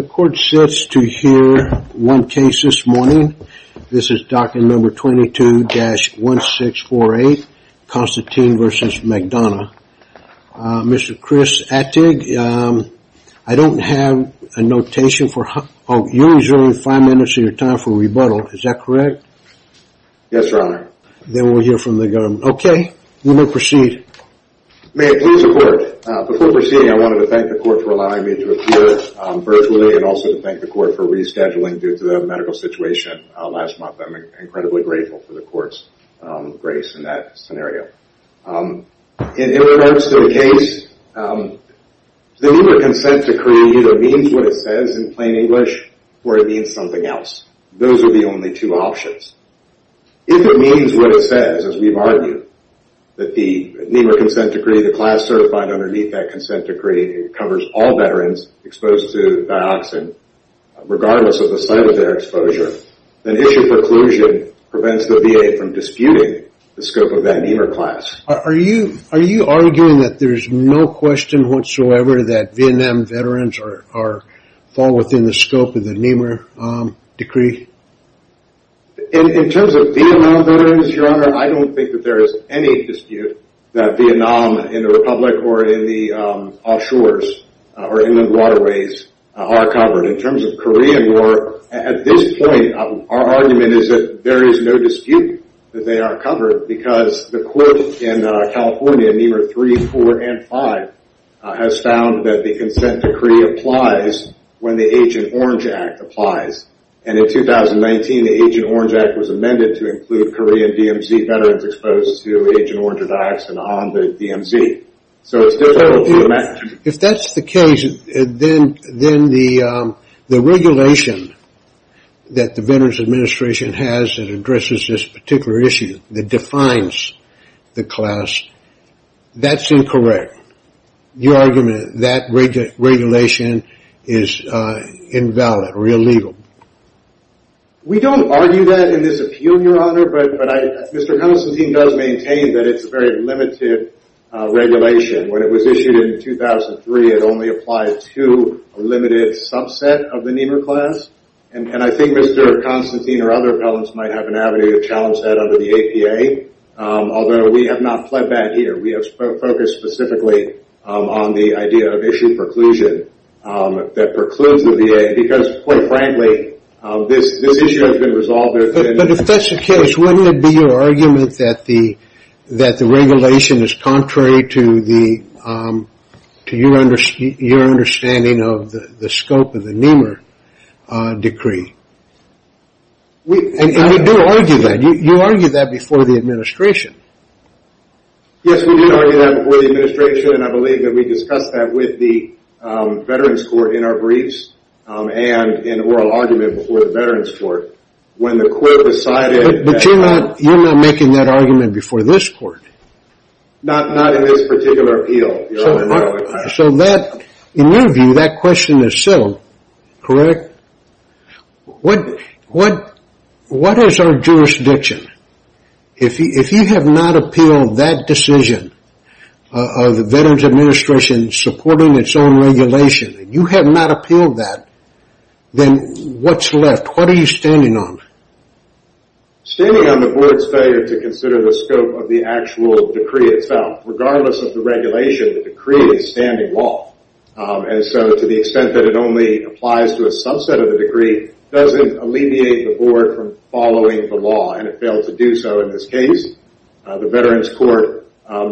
The court sits to hear one case this morning. This is document number 22-1648, Constantine v. McDonough. Mr. Chris Attig, I don't have a notation for, oh, you're reserving five minutes of your time for rebuttal, is that correct? Yes, your honor. Then we'll hear from the government. Okay, we will proceed. May I please report? Before proceeding, I wanted to thank the court for allowing me to appear virtually, and also to thank the court for rescheduling due to the medical situation last month. I'm incredibly grateful for the court's grace in that scenario. In regards to the case, the NIMA consent decree either means what it says in plain English, or it means something else. Those are the only two options. If it means what it says, as we've argued, that the NIMA consent decree, the class certified underneath that consent decree, covers all veterans exposed to dioxin, regardless of the site of their exposure, then issue preclusion prevents the VA from disputing the scope of that NIMA class. Are you arguing that there's no question whatsoever that Vietnam veterans fall within the scope of the NIMA decree? In terms of Vietnam veterans, your honor, I don't think that there is any dispute that Vietnam in the Republic or in the offshores or inland waterways are covered. In terms of Korean War, at this point, our argument is that there is no dispute that they are covered because the court in California, NIMA 3, 4, and 5, has found that the consent decree applies when the Agent Orange Act applies. In 2019, the Agent Orange Act was amended to include Korean DMZ veterans exposed to Agent Orange or dioxin on the DMZ. If that's the case, then the regulation that the Veterans Administration has that addresses this particular issue, that defines the class, that's incorrect. Your argument that regulation is invalid or illegal? We don't argue that in this appeal, your honor, but Mr. Constantine does maintain that it's a very limited regulation. When it was issued in 2003, it only applied to a limited subset of the NIMA class, and I think Mr. Constantine or other appellants might have an avenue to challenge that under the APA, although we have not pled back here. We have focused specifically on the idea of issue preclusion that precludes the VA because, quite frankly, this issue has been resolved within... But if that's the case, wouldn't it be your argument that the regulation is contrary to your understanding of the scope of the NIMA decree? And you do argue that. You argued that before the administration. Yes, we did argue that before the administration, and I believe that we discussed that with the Veterans Court in our briefs and in oral argument before the Veterans Court. When the court decided... But you're not making that argument before this court. Not in this particular appeal, your honor. So that, in your view, that question is still correct? What is our jurisdiction? If you have not appealed that decision of the Veterans Administration supporting its own regulation, and you have not appealed that, then what's left? What are you standing on? Standing on the board's failure to consider the scope of the actual decree itself. Regardless of the regulation, the decree is standing law. And so to the extent that it only applies to a subset of the decree doesn't alleviate the board from following the law, and it failed to do so in this case. The Veterans Court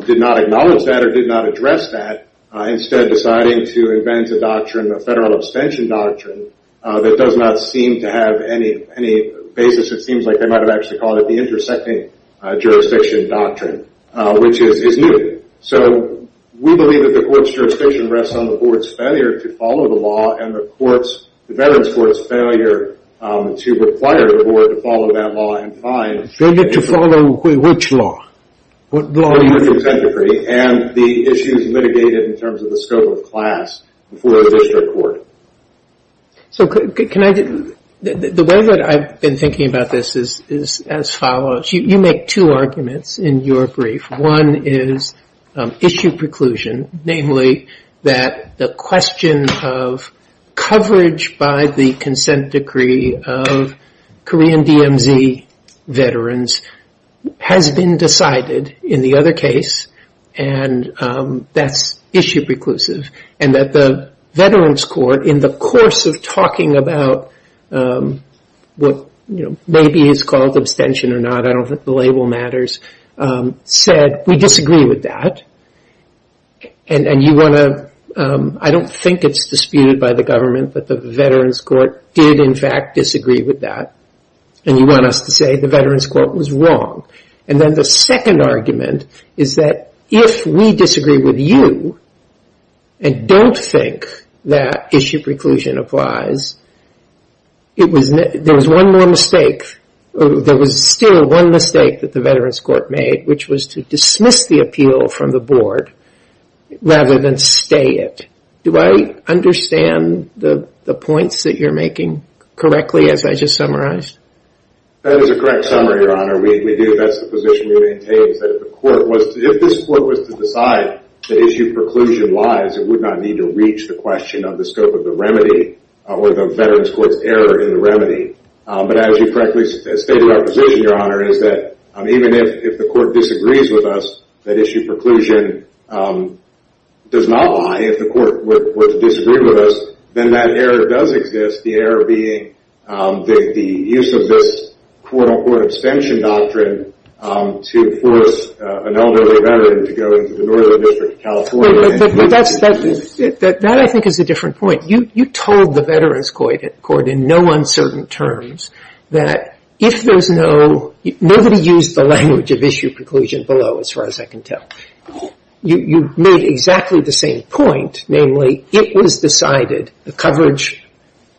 did not acknowledge that or did not address that. Instead, deciding to invent a doctrine, a federal abstention doctrine, that does not seem to have any basis. It seems like they might have actually called it the intersecting jurisdiction doctrine, which is new. We believe that the court's jurisdiction rests on the board's failure to follow the law, and the Veterans Court's failure to require the board to follow that law in time. Failure to follow which law? What law are you referring to? And the issues litigated in terms of the scope of class before a district court. So the way that I've been thinking about this is as follows. You make two arguments in your brief. One is issue preclusion. Namely, that the question of coverage by the consent decree of Korean DMZ veterans has been decided in the other case, and that's issue preclusive. And that the Veterans Court, in the course of talking about what maybe is called abstention or not, I don't think the label matters, said, we disagree with that. And you want to, I don't think it's disputed by the government that the Veterans Court did, in fact, disagree with that. And you want us to say the Veterans Court was wrong. And then the second argument is that if we disagree with you and don't think that issue preclusion applies, there was one more mistake. There was still one mistake that the Veterans Court made, which was to dismiss the appeal from the board rather than stay it. Do I understand the points that you're making correctly, as I just summarized? That is a correct summary, Your Honor. We do. That's the position we maintain, that if the court was to decide that issue preclusion lies, it would not need to reach the question of the scope of the remedy or the Veterans Court's error in the remedy. But as you correctly stated our position, Your Honor, is that even if the court disagrees with us, that issue preclusion does not lie. If the court were to disagree with us, then that error does exist. The error being the use of this quote-unquote abstention doctrine to force an elderly veteran to go into the Northern District of California. But that, I think, is a different point. You told the Veterans Court in no uncertain terms that if there's no – nobody used the language of issue preclusion below, as far as I can tell. You made exactly the same point, namely, it was decided, the coverage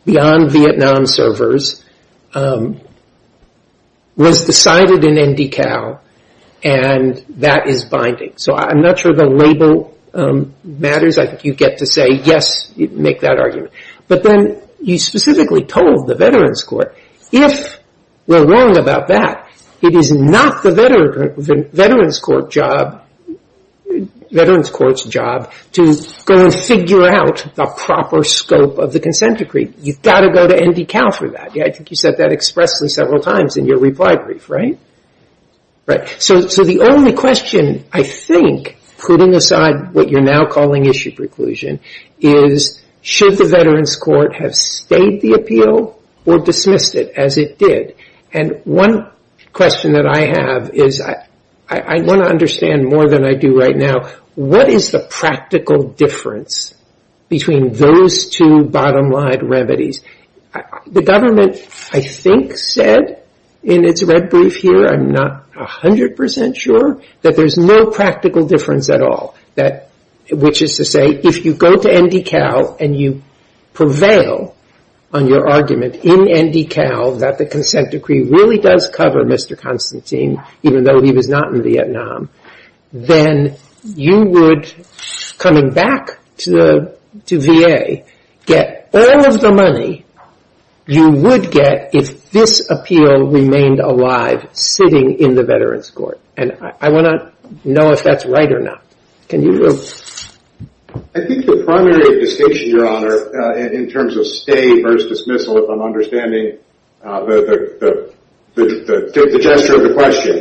beyond Vietnam servers was decided in NDCal, and that is binding. So I'm not sure the label matters. I think you get to say, yes, make that argument. But then you specifically told the Veterans Court, if we're wrong about that, it is not the Veterans Court's job to go and figure out the proper scope of the consent agreement. You've got to go to NDCal for that. I think you said that expressly several times in your reply brief, right? So the only question, I think, putting aside what you're now calling issue preclusion is, should the Veterans Court have stayed the appeal or dismissed it as it did? And one question that I have is, I want to understand more than I do right now, what is the practical difference between those two bottom line remedies? The government, I think, said in its red brief here – I'm not 100 percent sure – that there's no practical difference at all, which is to say, if you go to NDCal and you prevail on your argument in NDCal that the consent decree really does cover Mr. Constantine, even though he was not in Vietnam, then you would, coming back to VA, get all of the money you would get if this appeal remained alive sitting in the Veterans Court. And I want to know if that's right or not. Can you? I think the primary distinction, Your Honor, in terms of stay versus dismissal, I'm understanding the gesture of the question,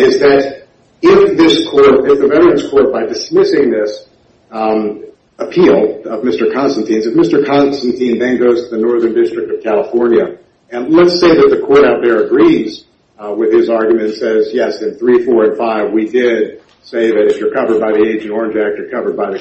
is that if this court, if the Veterans Court, by dismissing this appeal of Mr. Constantine's, if Mr. Constantine then goes to the Northern District of California, and let's say that the court out there agrees with his argument and says, yes, in 3, 4, and 5, we did say that if you're covered by the Agent Orange Act,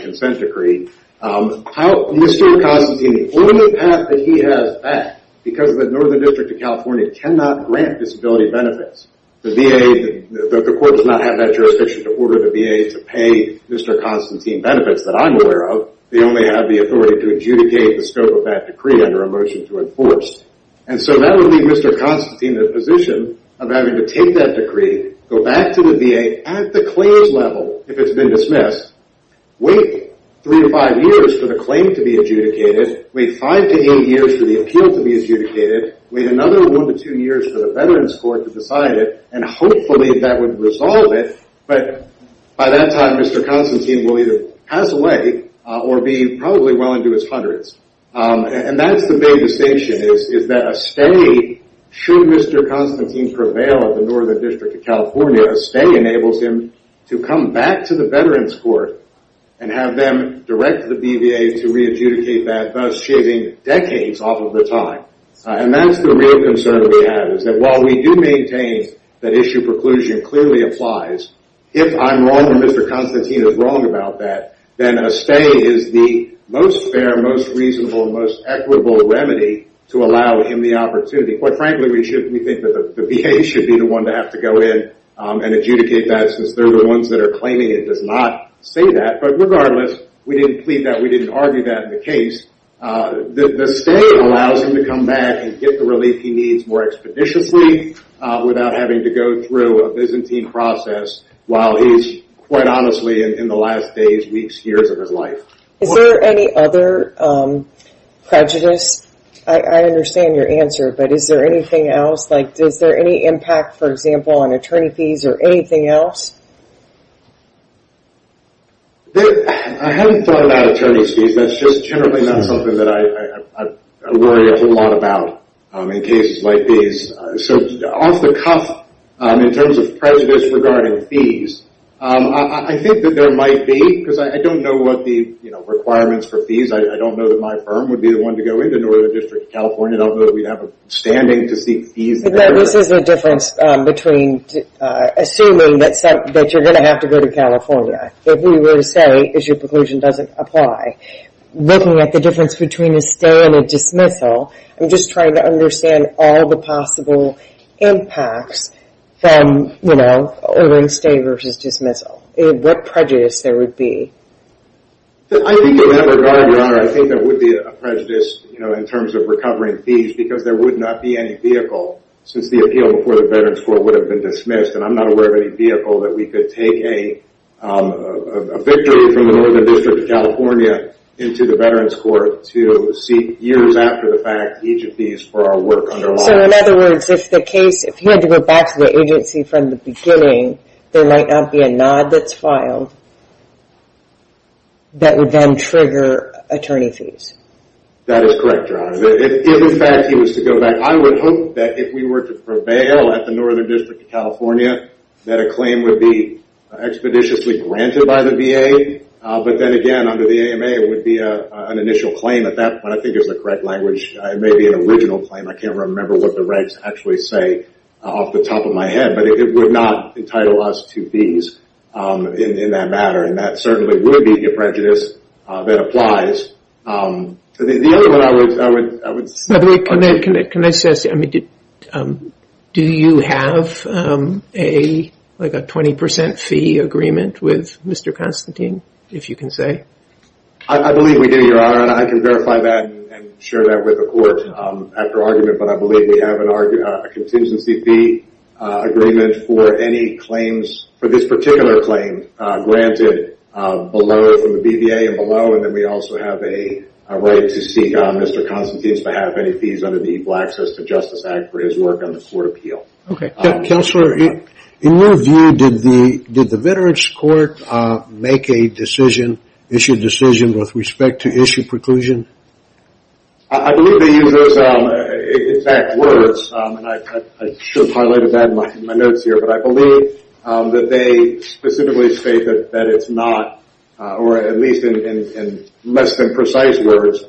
consent decree, Mr. Constantine, the only path that he has back, because the Northern District of California cannot grant disability benefits, the VA, the court does not have that jurisdiction to order the VA to pay Mr. Constantine benefits that I'm aware of. They only have the authority to adjudicate the scope of that decree under a motion to enforce. And so that would leave Mr. Constantine in a position of having to take that decree, go back to the VA at the claims level, if it's been dismissed, wait 3 to 5 years for the claim to be adjudicated, wait 5 to 8 years for the appeal to be adjudicated, wait another 1 to 2 years for the Veterans Court to decide it, and hopefully that would resolve it. But by that time, Mr. Constantine will either pass away or be probably well into his hundreds. And that's is that a stay, should Mr. Constantine prevail at the Northern District of California, a stay enables him to come back to the Veterans Court and have them direct the BVA to re-adjudicate that, thus shaving decades off of the time. And that's the real concern we have, is that while we do maintain that issue preclusion clearly applies, if I'm wrong and Mr. Constantine is wrong about that, then a stay is the most fair, most reasonable, most equitable remedy to allow him the opportunity. Quite frankly, we think that the VA should be the one to have to go in and adjudicate that since they're the ones that are claiming it does not say that. But regardless, we didn't plead that, we didn't argue that in the case. The stay allows him to come back and get the relief he needs more expeditiously without having to go through a Byzantine process while he's, quite honestly, in the last days, weeks, years of his life. Is there any other prejudice? I understand your answer, but is there anything else? Like, is there any impact, for example, on attorney fees or anything else? I haven't thought about attorney's fees. That's just generally not something that I worry a whole lot about in cases like these. So off the cuff, in terms of prejudice regarding fees, I think that there might be, because I don't know what the requirements for fees, I don't know that my firm would be the one to go into Northern District of California. I don't know that we'd have a standing to seek fees there. This is the difference between assuming that you're going to have to go to California. If we were to say, is your preclusion doesn't apply, looking at the difference between a stay and a leave, or a stay versus dismissal, what prejudice there would be? I think there would be a prejudice in terms of recovering fees because there would not be any vehicle, since the appeal before the Veterans Court would have been dismissed, and I'm not aware of any vehicle that we could take a victory from the Northern District of California into the Veterans Court to seek, years after the fact, each of these for our work under law. In other words, if the case, if you had to go back to the agency from the beginning, there might not be a nod that's filed that would then trigger attorney fees. That is correct, Your Honor. If in fact he was to go back, I would hope that if we were to prevail at the Northern District of California, that a claim would be expeditiously granted by the VA, but then again under the AMA, it would be an initial claim at that point. I think the correct language may be an original claim. I can't remember what the regs actually say off the top of my head, but it would not entitle us to fees in that matter, and that certainly would be a prejudice that applies. The other one I would... Do you have a 20% fee agreement with Mr. Constantine, if you can say? I believe we do, Your Honor, and I can verify that and share that with the court after argument, but I believe we have a contingency fee agreement for any claims, for this particular claim, granted below from the BVA and below, and then we also have a right to seek on Mr. Constantine's behalf any fees under the Equal Access to Justice Act for his work on the court appeal. Counselor, in your view, did the Veterans Court make a decision, issue a decision with respect to issue preclusion? I believe they used those exact words, and I should have highlighted that in my notes here, but I believe that they specifically state that it's not, or at least in less than precise words,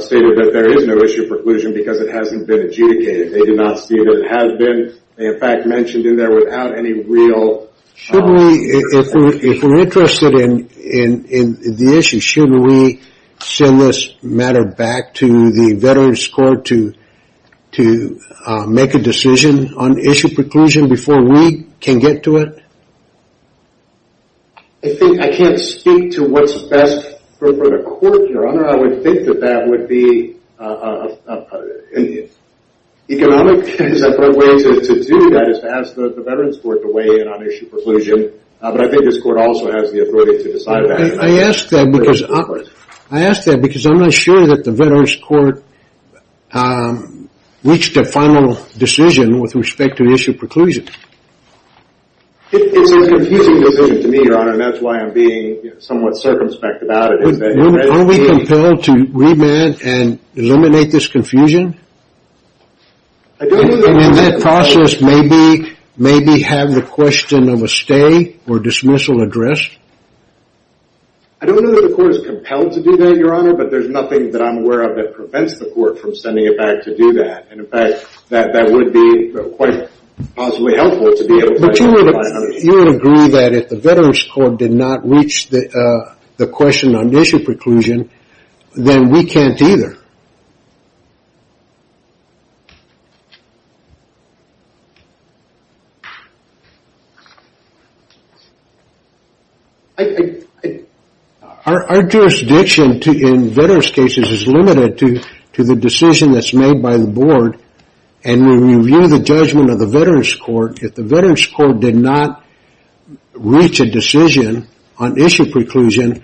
stated that there is no issue preclusion because it hasn't been adjudicated. They do not see that it has been, in fact, mentioned in there without any real... If we're interested in the issue, should we send this matter back to the Veterans Court to make a decision on issue preclusion before we can get to it? I can't speak to what's best for the court, Your Honor. I would think that that would be an economic way to do that is to ask the Veterans Court to weigh in on issue preclusion, but I think this court also has the authority to decide that. I ask that because I'm not sure that the Veterans Court reached a final decision with respect to issue preclusion. It's a confusing decision to me, Your Honor, and that's why I'm being somewhat circumspect about it. Are we compelled to remand and eliminate this confusion? And in that process, maybe have the question of a stay or dismissal addressed? I don't know that the court is compelled to do that, Your Honor, but there's nothing that I'm aware of that prevents the court from sending it back to do that, and in fact, that would be quite possibly helpful to be able to... But you would agree that if the Veterans Court did not reach the question on issue preclusion, then we can't either. Our jurisdiction in Veterans cases is limited to the decision that's made by the board, and when we review the judgment of the Veterans Court, if the Veterans Court did not reach a decision on issue preclusion,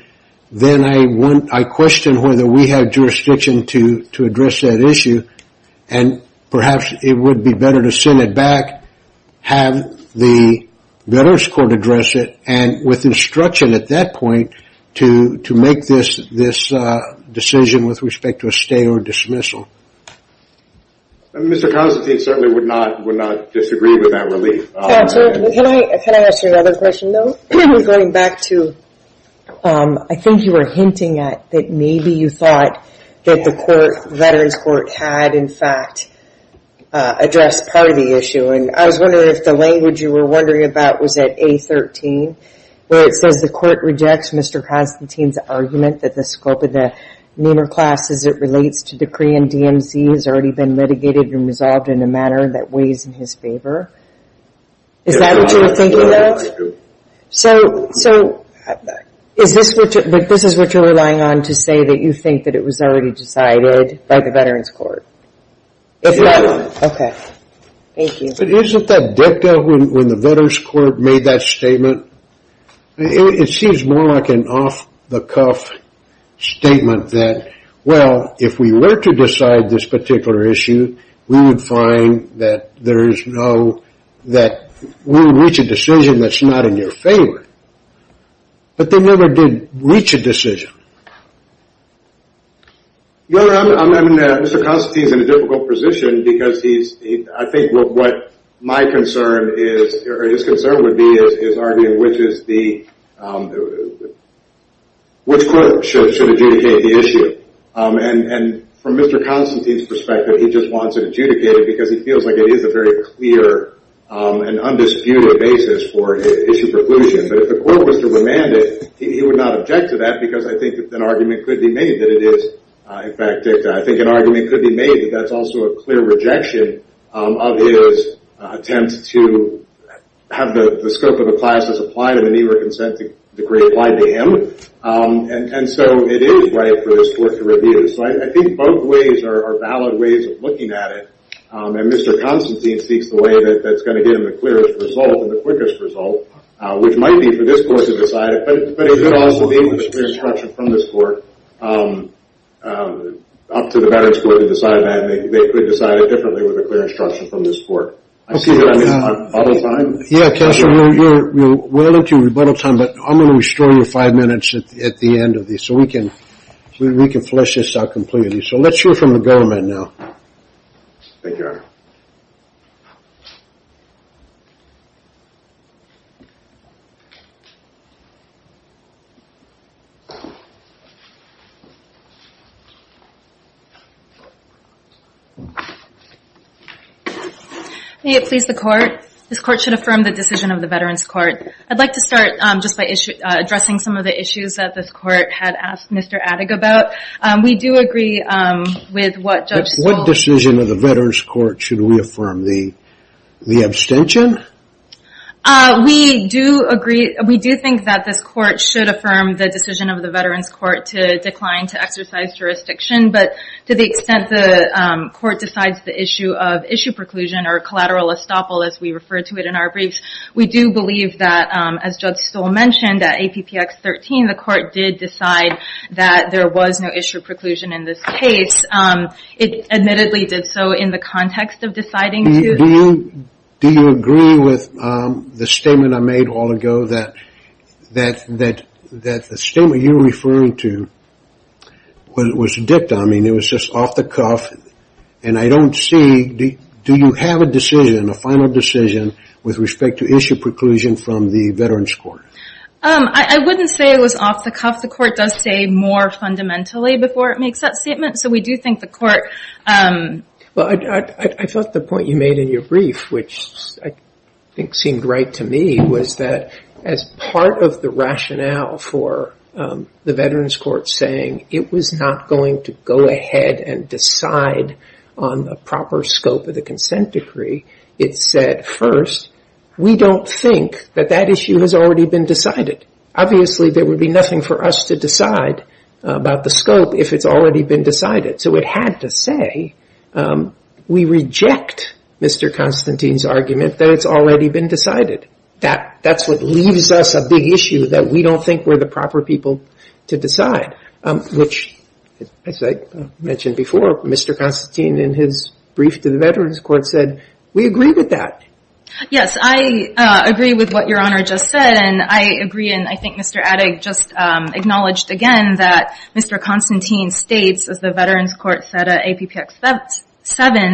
then I question whether we have jurisdiction to address that issue, and perhaps it would be better to send it back, have the Veterans Court address it, and with instruction at that point, to make this decision with respect to a stay or dismissal. Mr. Constantine certainly would not disagree with that relief. Can I ask you another question, though, going back to... I think you were hinting at that maybe you thought that the Veterans Court had, in fact, addressed part of the issue, and I was wondering if the language you were wondering about was at A13, where it says the court rejects Mr. Constantine's argument that the scope of the NAMER class as it relates to decree and DMC has already been litigated and resolved in a manner that weighs in his favor. Is that what you were thinking of? So, is this what you're relying on to say that you think that it was already decided by the Veterans Court? Okay. Thank you. Isn't that dicta when the Veterans Court made that statement? It seems more like an off-the-cuff statement that, well, if we were to this particular issue, we would find that we would reach a decision that's not in your favor, but they never did reach a decision. Your Honor, Mr. Constantine is in a difficult position because I think what my concern is, or his concern would be, is arguing which court should adjudicate the issue. And from Mr. Constantine's perspective, he just wants it adjudicated because he feels like it is a very clear and undisputed basis for issue preclusion. But if the court was to remand it, he would not object to that because I think that an argument could be made that it is, in fact, dicta. I think an argument could be made that that's also a clear rejection of his attempt to have the scope of the class that's applied in the NAMER consent decree applied to him. And so it is right for this court to review this. So I think both ways are valid ways of looking at it. And Mr. Constantine seeks the way that's going to give him the clearest result and the quickest result, which might be for this court to decide it, but it could also be with a clear instruction from this court up to the Veterans Court to decide that, and they could decide it differently with a clear instruction from this court. I see that I missed my rebuttal time. We're into rebuttal time, but I'm going to restore your five minutes at the end of this, so we can flesh this out completely. So let's hear from the government now. Thank you, Your Honor. May it please the court. This court should affirm the decision of the Veterans Court. I'd like to start just by addressing some of the issues that this court had asked Mr. Adig about. We do agree with what Judge Stoll... What decision of the Veterans Court should we affirm? The abstention? We do agree. We do think that this court should affirm the decision of the Veterans Court to decline to exercise jurisdiction, but to the extent the court decides the issue of issue preclusion or collateral estoppel, as we refer to it in our briefs, we do believe that, as Judge Stoll said, there is no issue of preclusion in this case. It admittedly did so in the context of deciding to... Do you agree with the statement I made all ago that the statement you were referring to was dipped? I mean, it was just off the cuff, and I don't see... Do you have a decision, a final decision, with respect to issue preclusion from the Veterans Court? I wouldn't say it was off the cuff. The court does say more fundamentally before it makes that statement, so we do think the court... Well, I thought the point you made in your brief, which I think seemed right to me, was that as part of the rationale for the Veterans Court saying it was not going to go ahead and decide on the proper scope of the consent decree, it said, first, we don't think that that issue has already been decided. Obviously, there would be nothing for us to decide about the scope if it's already been decided. So it had to say we reject Mr. Constantine's argument that it's already been decided. That's what leaves us a big issue that we don't think we're the proper people to decide, which, as I mentioned before, Mr. Constantine in his brief to the Veterans Court said, we agree with that. Yes, I agree with what Your Honor just said, and I agree, and I think Mr. Adig just acknowledged again that Mr. Constantine states, as the Veterans Court said at APPX-7,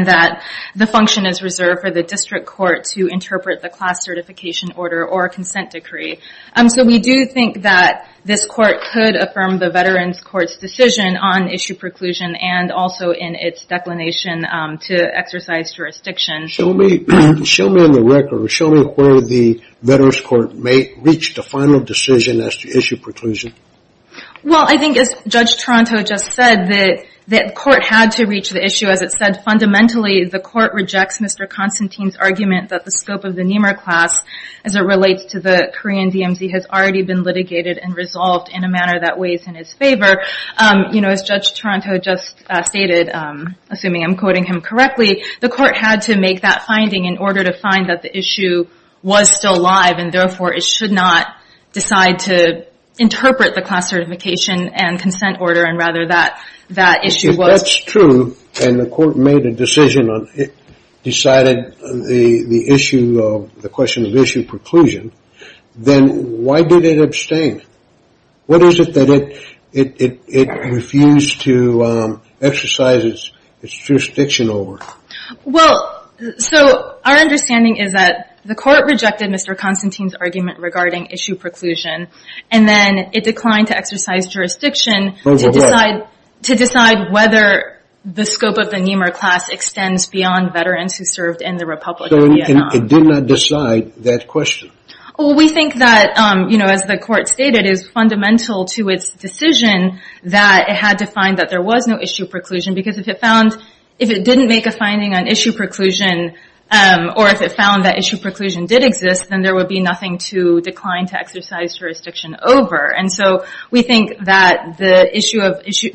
that the function is reserved for the district court to interpret the class certification order or consent decree. So we do think that this court could the Veterans Court's decision on issue preclusion and also in its declination to exercise jurisdiction. So show me on the record, show me where the Veterans Court may reach the final decision as to issue preclusion. Well, I think as Judge Toronto just said, the court had to reach the issue. As it said, fundamentally, the court rejects Mr. Constantine's argument that the scope of the NEMR class, as it relates to the Korean DMZ, has already been litigated and resolved in a manner that weighs in his favor. You know, as Judge Toronto just stated, assuming I'm quoting him correctly, the court had to make that finding in order to find that the issue was still live and therefore it should not decide to interpret the class certification and consent order and rather that that issue was... If that's true, and the court made a decision on it, decided the issue of preclusion, then why did it abstain? What is it that it refused to exercise its jurisdiction over? Well, so our understanding is that the court rejected Mr. Constantine's argument regarding issue preclusion and then it declined to exercise jurisdiction to decide whether the scope of the NEMR class was still there. Well, we think that, as the court stated, it is fundamental to its decision that it had to find that there was no issue preclusion because if it found... If it didn't make a finding on issue preclusion or if it found that issue preclusion did exist, then there would be nothing to decline to exercise jurisdiction over. And so we think that the issue of issue...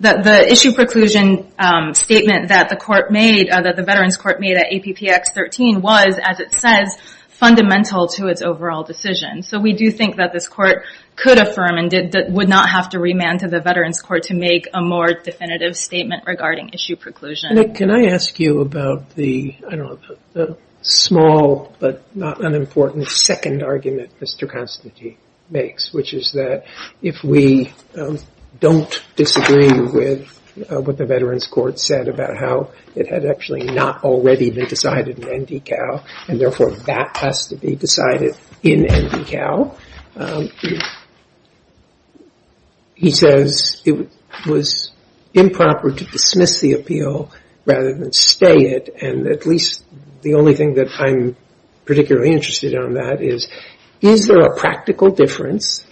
That the issue preclusion statement that the court made, that the Veterans Court made at APPX 13 was, as it says, fundamental to its overall decision. So we do think that this court could affirm and would not have to remand to the Veterans Court to make a more definitive statement regarding issue preclusion. Can I ask you about the, I don't know, small but not unimportant second argument Mr. Constantine makes, which is that if we don't disagree with what the Veterans Court said about how it had actually not already been decided in NDCAL and therefore that has to be decided in NDCAL, he says it was improper to dismiss the appeal rather than stay it. And at least the only thing that I'm particularly interested in on that is, is there a practical difference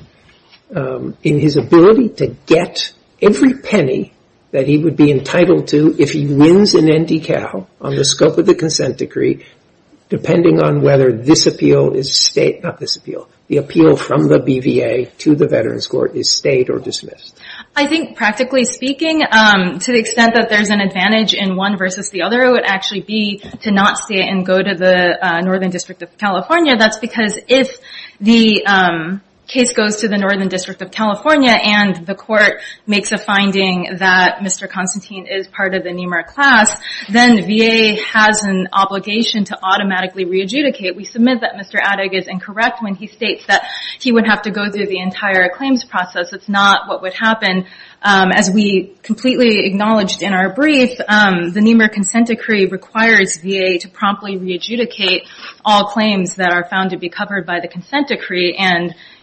in his ability to get every penny that he would be entitled to if he wins in NDCAL on the scope of the consent decree, depending on whether this appeal is state... Not this appeal. The appeal from the BVA to the Veterans Court is state or dismissed. I think practically speaking, to the extent that there's an advantage in one versus the other, it would actually be to not stay and go to the Northern District of California. That's because if the case goes to the Northern District of California and the court makes a finding that Mr. Constantine is part of the NEMAR class, then VA has an obligation to automatically re-adjudicate. We submit that Mr. Adig is incorrect when he states that he would have to go through the entire claims process. That's not what would happen. As we completely acknowledged in our brief, the NEMAR consent decree requires VA to promptly re-adjudicate all claims that are found to be covered by the consent decree.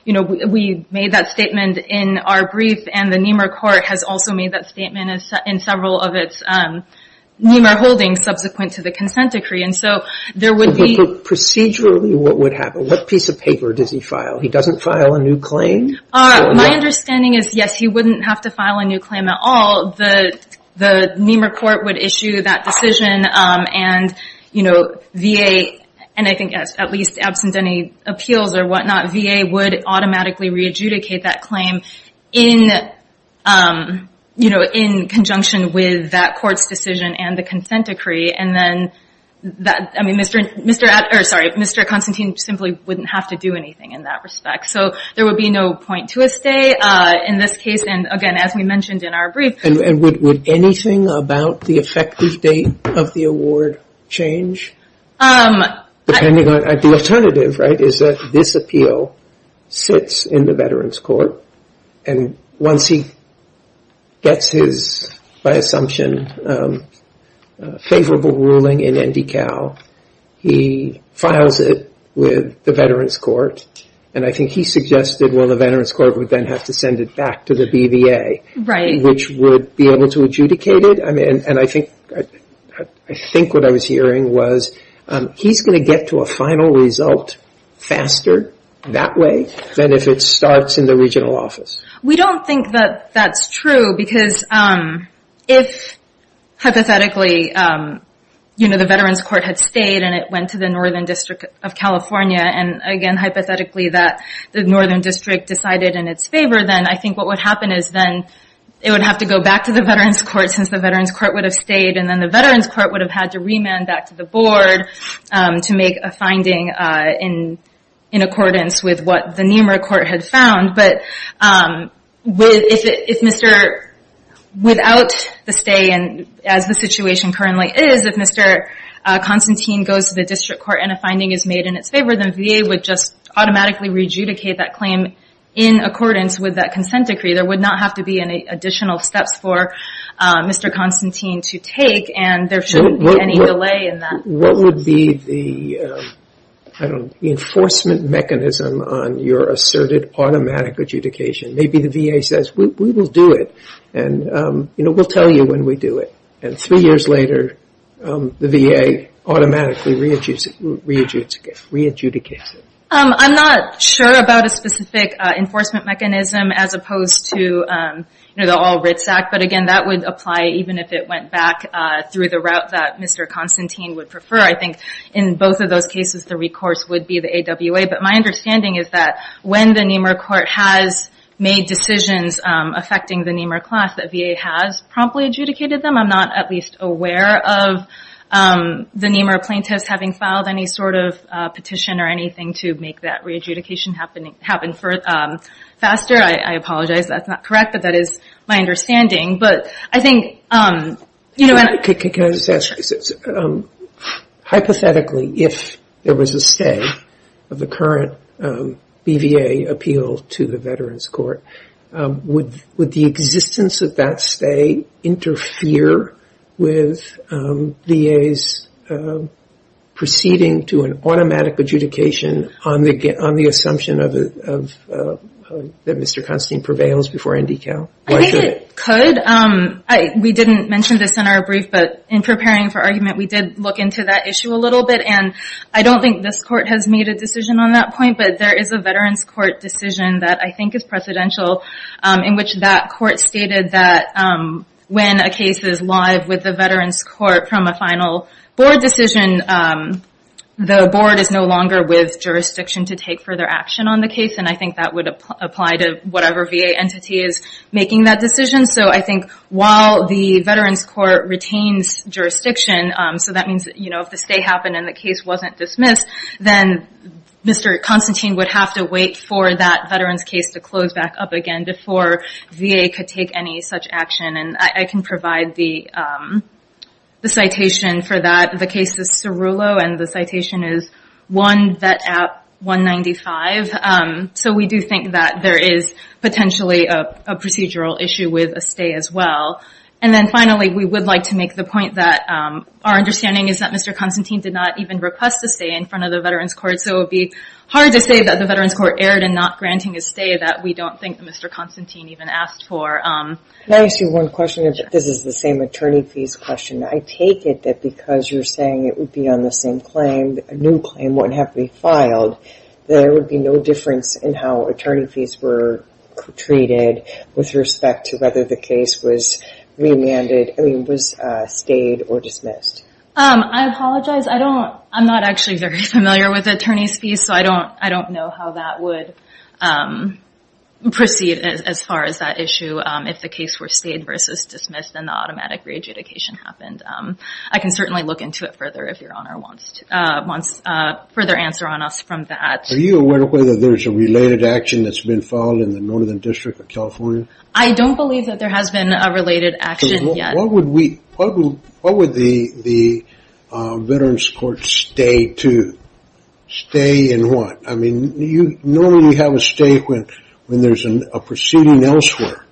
We made that statement in our brief, and the NEMAR court has also made that statement in several of its NEMAR holdings subsequent to the consent decree. Procedurally, what would happen? What piece of paper does he file? He doesn't file a new claim? My understanding is, yes, he wouldn't have to file a new claim at all. The NEMAR court would issue that decision, and I think at least absent any appeals or whatnot, VA would automatically re-adjudicate that claim in conjunction with that court's decision and the consent decree. I mean, Mr. Constantine simply wouldn't have to do anything in that respect. There would be no point to a stay in this case, and again, as we mentioned in our brief- And would anything about the effective date of the award change? The alternative is that this appeal sits in the Veterans Court, and once he gets his, by assumption, favorable ruling in NDCal, he files it with the Veterans Court, and I think he suggested, well, the Veterans Court would then have to send it back to the BVA, which would be able to adjudicate it. I mean, and I think what I was hearing was he's going to get to a final result faster that way than if it starts in the regional office. We don't think that that's true, because if, hypothetically, the Veterans Court had stayed and it went to the Northern District of California, and again, hypothetically, that the Northern District decided in its favor, then I think what would happen is then it would have to go back to the Veterans Court since the Veterans Court would have stayed, and then the Veterans Court would have had to remand back to the board to make a finding in accordance with what the Nemer Court had found, but without the stay, and as the situation currently is, if Mr. Constantine goes to the District Court and a finding is made in its favor, then VA would just automatically re-adjudicate that claim in accordance with that consent decree. There would not have to be any additional steps for Mr. Constantine to take, and there shouldn't be any delay in that. What would be the enforcement mechanism on your asserted automatic adjudication? Maybe the VA says, we will do it, and we'll tell you when we do it, and three years later, the VA automatically re-adjudicates it. I'm not sure about a specific enforcement mechanism as opposed to the All Writs Act, but again, that would apply even if it went back through the route that Mr. Constantine would prefer. I think in both of those cases, the recourse would be the AWA, but my understanding is that when the Nemer Court has made decisions affecting the Nemer class, the VA has promptly adjudicated them. I'm not at least aware of the Nemer plaintiffs having filed any sort of petition or anything to make that re-adjudication happen faster. I apologize, that's not correct, but that is my understanding, but I think- Can I just ask? Hypothetically, if there was a stay of the current BVA appeal to the Veterans Court, would the existence of that stay interfere with VA's proceeding to an automatic adjudication on the assumption that Mr. Constantine prevails before NDCal? I think it could. We didn't mention this in our brief, but in preparing for argument, we did look into that issue a little bit, and I don't think this court has made a decision on that point, but there is a Veterans Court decision that I think is precedential in which that court stated that when a case is live with the Veterans Court from a final board decision, the board is no longer with jurisdiction to take further action on the case, and I think that would apply to whatever VA entity is making that decision. I think while the Veterans Court retains jurisdiction, so that means if the stay happened and the case wasn't dismissed, then Mr. Constantine would have to wait for that Veterans case to close back up again before VA could take any such action, and I can provide the citation for that. The case is Cirulo, and the citation is 1 Vet App 195, so we do think that there is potentially a procedural issue with a stay as well, and then finally, we would like to make the point that our understanding is that Mr. Constantine did not even request a stay in front of the Veterans Court, so it would be hard to say that the Veterans Court erred in not granting a stay that we don't think Mr. Constantine even asked for. Can I ask you one question? This is the same attorney fees question. I take it that because you're saying it would be on the same claim, a new claim wouldn't have to be filed, there would be no difference in how attorney fees were treated with respect to whether the case was remanded, I mean, was stayed or dismissed. I apologize. I'm not actually very familiar with attorney's fees, so I don't know how that would proceed as far as that issue. If the case were stayed versus dismissed, then the automatic re-adjudication happened. I can certainly look into it further if Your Honor wants further answer on us from that. Are you aware of whether there's a related action that's been filed in the Northern District of California? I don't believe that there is. Stay in what? I mean, normally you have a stay when there's a proceeding elsewhere,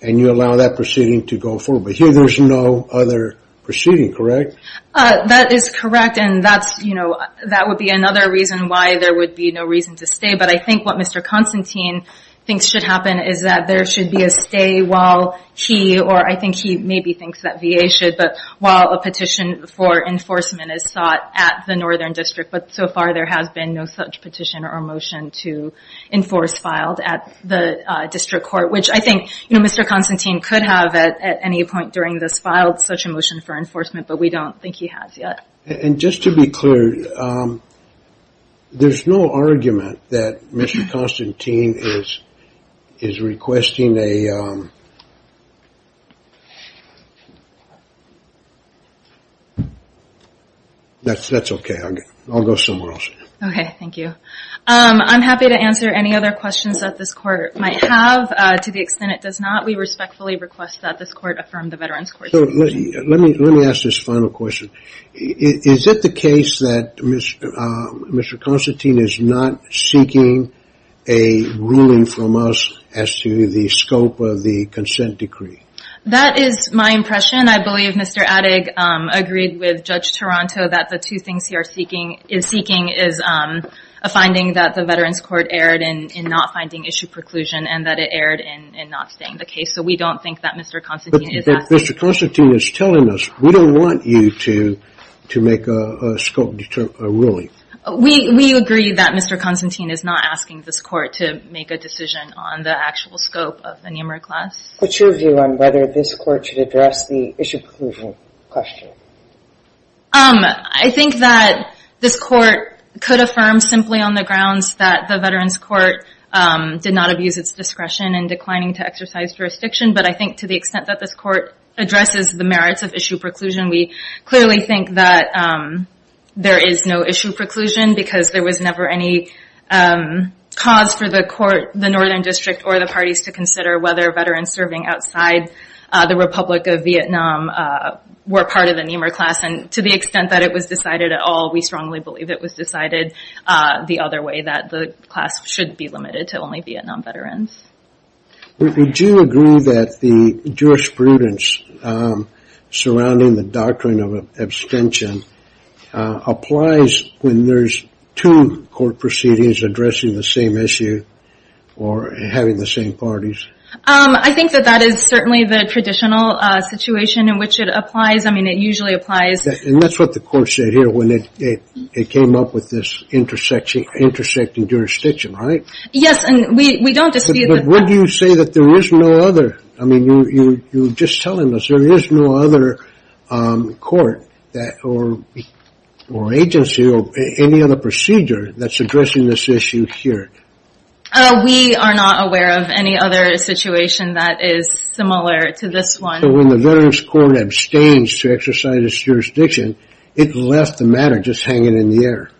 and you allow that proceeding to go forward, but here there's no other proceeding, correct? That is correct, and that would be another reason why there would be no reason to stay, but I think what Mr. Constantine thinks should happen is that there should be a stay while he, or I think he maybe thinks that VA should, but while a petition for enforcement is sought at the Northern District, but so far there has been no such petition or motion to enforce filed at the District Court, which I think Mr. Constantine could have at any point during this filed such a motion for enforcement, but we don't think he has yet. And just to be clear, there's no argument that Mr. Constantine is requesting a... That's okay, I'll go somewhere else. Okay, thank you. I'm happy to answer any other questions that this Court might have. To the extent it does not, we respectfully request that this Court affirm the Veterans Court's decision. Let me ask this final question. Is it the case that Mr. Constantine is not seeking a ruling from us as to the scope of the consent decree? That is my impression. I believe Mr. Adig agreed with Judge Toronto that the two things he is seeking is a finding that the Veterans Court erred in not finding issue preclusion and that it erred in not staying the case, so we don't think that Mr. Constantine is asking. But Mr. Constantine is telling us, we don't want you to make a scope ruling. We agree that Mr. Constantine is not asking this Court to make a decision on the actual scope of the numeric class. What's your view on whether this Court should address the issue preclusion question? I think that this Court could affirm simply on the grounds that the Veterans Court did not abuse its discretion in declining to jurisdiction, but I think to the extent that this Court addresses the merits of issue preclusion, we clearly think that there is no issue preclusion because there was never any cause for the Northern District or the parties to consider whether Veterans serving outside the Republic of Vietnam were part of the NMER class. To the extent that it was decided at all, we strongly believe it was decided the other way, that the class should be limited to only non-Veterans. Would you agree that the jurisprudence surrounding the doctrine of abstention applies when there's two court proceedings addressing the same issue or having the same parties? I think that that is certainly the traditional situation in which it applies. I mean, it usually applies. And that's what the Court said here when it came up with intersecting jurisdiction, right? Yes, and we don't dispute that. But would you say that there is no other? I mean, you're just telling us there is no other court or agency or any other procedure that's addressing this issue here. We are not aware of any other situation that is similar to this one. So when the Veterans Court abstains to exercise its jurisdiction, it left the matter just hanging in the air.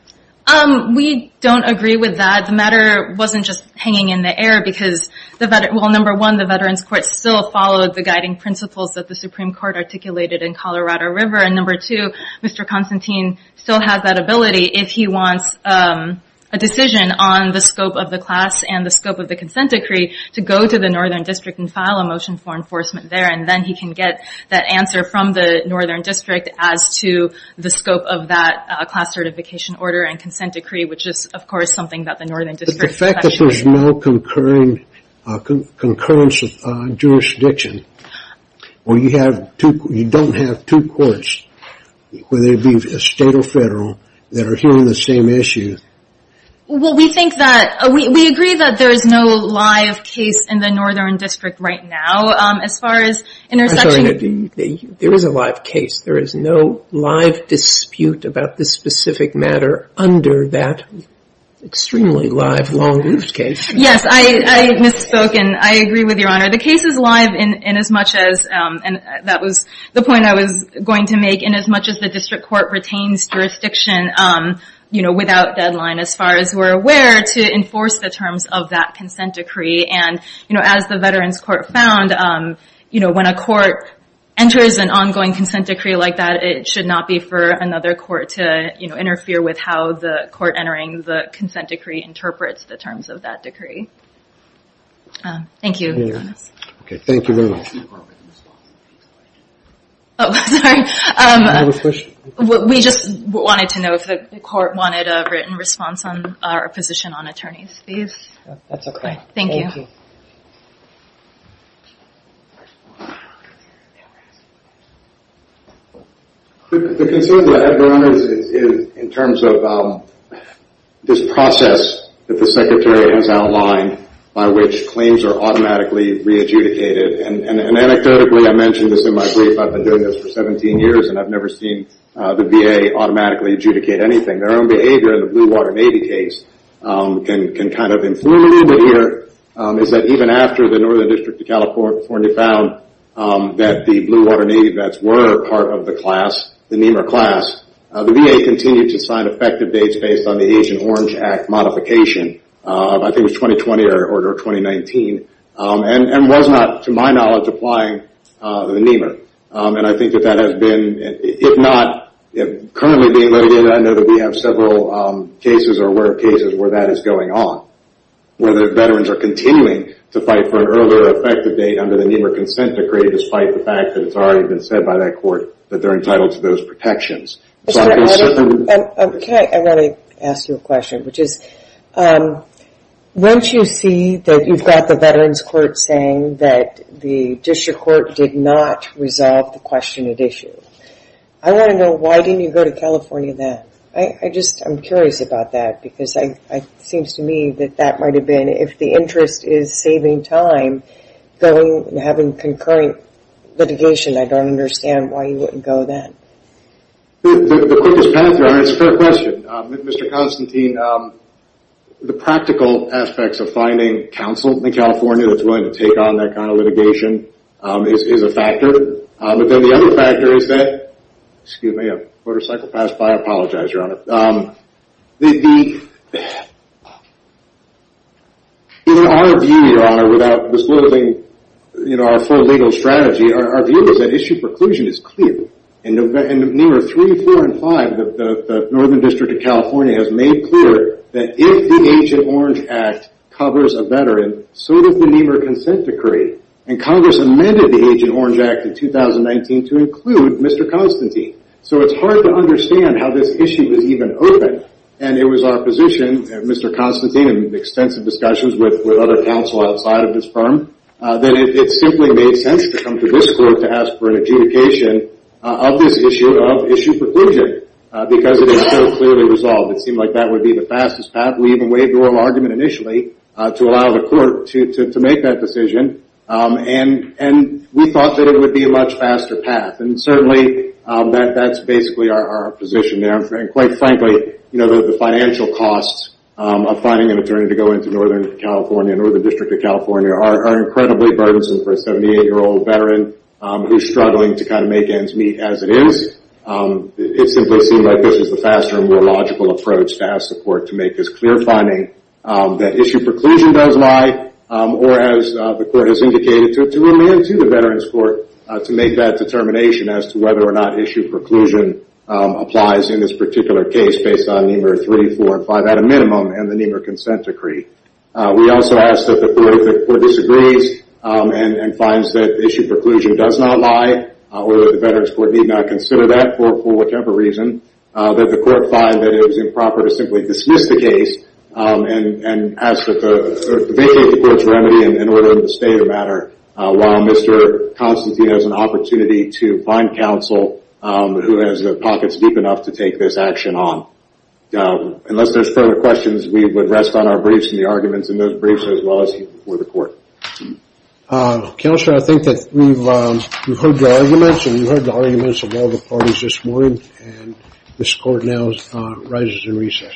We don't agree with that. The matter wasn't just hanging in the air because, well, number one, the Veterans Court still followed the guiding principles that the Supreme Court articulated in Colorado River. And number two, Mr. Constantine still has that ability if he wants a decision on the scope of the class and the scope of the consent decree to go to the Northern District and file a motion for enforcement there. And then he can get that answer from the Northern District as to the scope of that class certification order and consent decree, which is, of course, something that the Northern District... But the fact that there's no concurrence of jurisdiction where you don't have two courts, whether it be state or federal, that are hearing the same issue... Well, we think that... We agree that there is no live case in the Northern District. There is no live dispute about this specific matter under that extremely live, long-oofed case. Yes, I misspoken. I agree with Your Honor. The case is live in as much as... And that was the point I was going to make. In as much as the District Court retains jurisdiction without deadline, as far as we're aware, to enforce the terms of that consent decree. And as the consent decree like that, it should not be for another court to interfere with how the court entering the consent decree interprets the terms of that decree. Thank you, Your Honor. Okay, thank you very much. Oh, sorry. We just wanted to know if the court wanted a written response on our position on attorneys. That's okay. Thank you. The concern that I have, Your Honor, is in terms of this process that the Secretary has outlined by which claims are automatically re-adjudicated. And anecdotally, I mentioned this in my brief, I've been doing this for 17 years and I've never seen the VA automatically adjudicate anything. Their own behavior in the Blue Water Navy case can kind of influence it a little bit here, is that even after the Northern District of California found that the Blue Water Navy vets were part of the class, the NEMR class, the VA continued to sign effective dates based on the Asian Orange Act modification. I think it was 2020 or 2019. And was not, to my knowledge, applying to the NEMR. And I think that that has been, if not currently being loaded in, I know that we have several cases or work cases where that is going on, where the veterans are continuing to fight for an earlier effective date under the NEMR consent decree, despite the fact that it's already been said by that court that they're entitled to those protections. Can I ask you a question, which is, once you see that you've got the veterans court saying that the district court did not resolve the question at issue, I want to know why didn't you go to California then? I just, I'm curious about that because it seems to me that that might have been, if the interest is saving time, going and having concurrent litigation, I don't understand why you wouldn't go then. The quickest path there, it's a fair question. Mr. Constantine, the practical aspects of finding counsel in California that's willing to take on that kind of litigation is a factor. But then the other factor is that, excuse me, a motorcycle passed by, I apologize, your honor. In our view, your honor, without disclosing our full legal strategy, our view is that issue preclusion is clear. And NEMR 3, 4, and 5, the Northern District of California has made clear that if the Agent Orange Act covers a veteran, so does the NEMR consent decree. And Congress amended the Agent Orange Act in 2019 to include Mr. Constantine. So it's hard to understand how this issue is even open. And it was our position, Mr. Constantine, in extensive discussions with other counsel outside of this firm, that it simply made sense to come to this court to ask for an adjudication of this issue of issue preclusion because it is so clearly resolved. It seemed like that would be the fastest path. We even waived the oral argument initially to allow the court to make that decision. And we thought that it would be a much faster path. And certainly, that's basically our position there. And quite frankly, the financial costs of finding an attorney to go into Northern California, Northern District of California, are incredibly burdensome for a 78-year-old veteran who's struggling to make ends meet as it is. It simply seemed like this was the faster and more logical approach to ask the court to make this clear finding that issue preclusion does lie, or as the court has indicated, to remand to the Veterans Court to make that determination as to whether or not issue preclusion applies in this particular case based on NEMR 3, 4, and 5 at a minimum and the NEMR consent decree. We also asked that the court disagrees and finds that issue preclusion does not lie, or that the Veterans Court need not consider that for whichever reason, that the court find that it was improper to simply dismiss the case and vacate the court's remedy in order to stay the matter while Mr. Constantine has an opportunity to find counsel who has pockets deep enough to take this action on. Unless there's further questions, we would rest on our briefs arguments in those briefs as well as before the court. Counselor, I think that we've heard the arguments and we've heard the arguments of all the parties this morning and this court now rises in recess.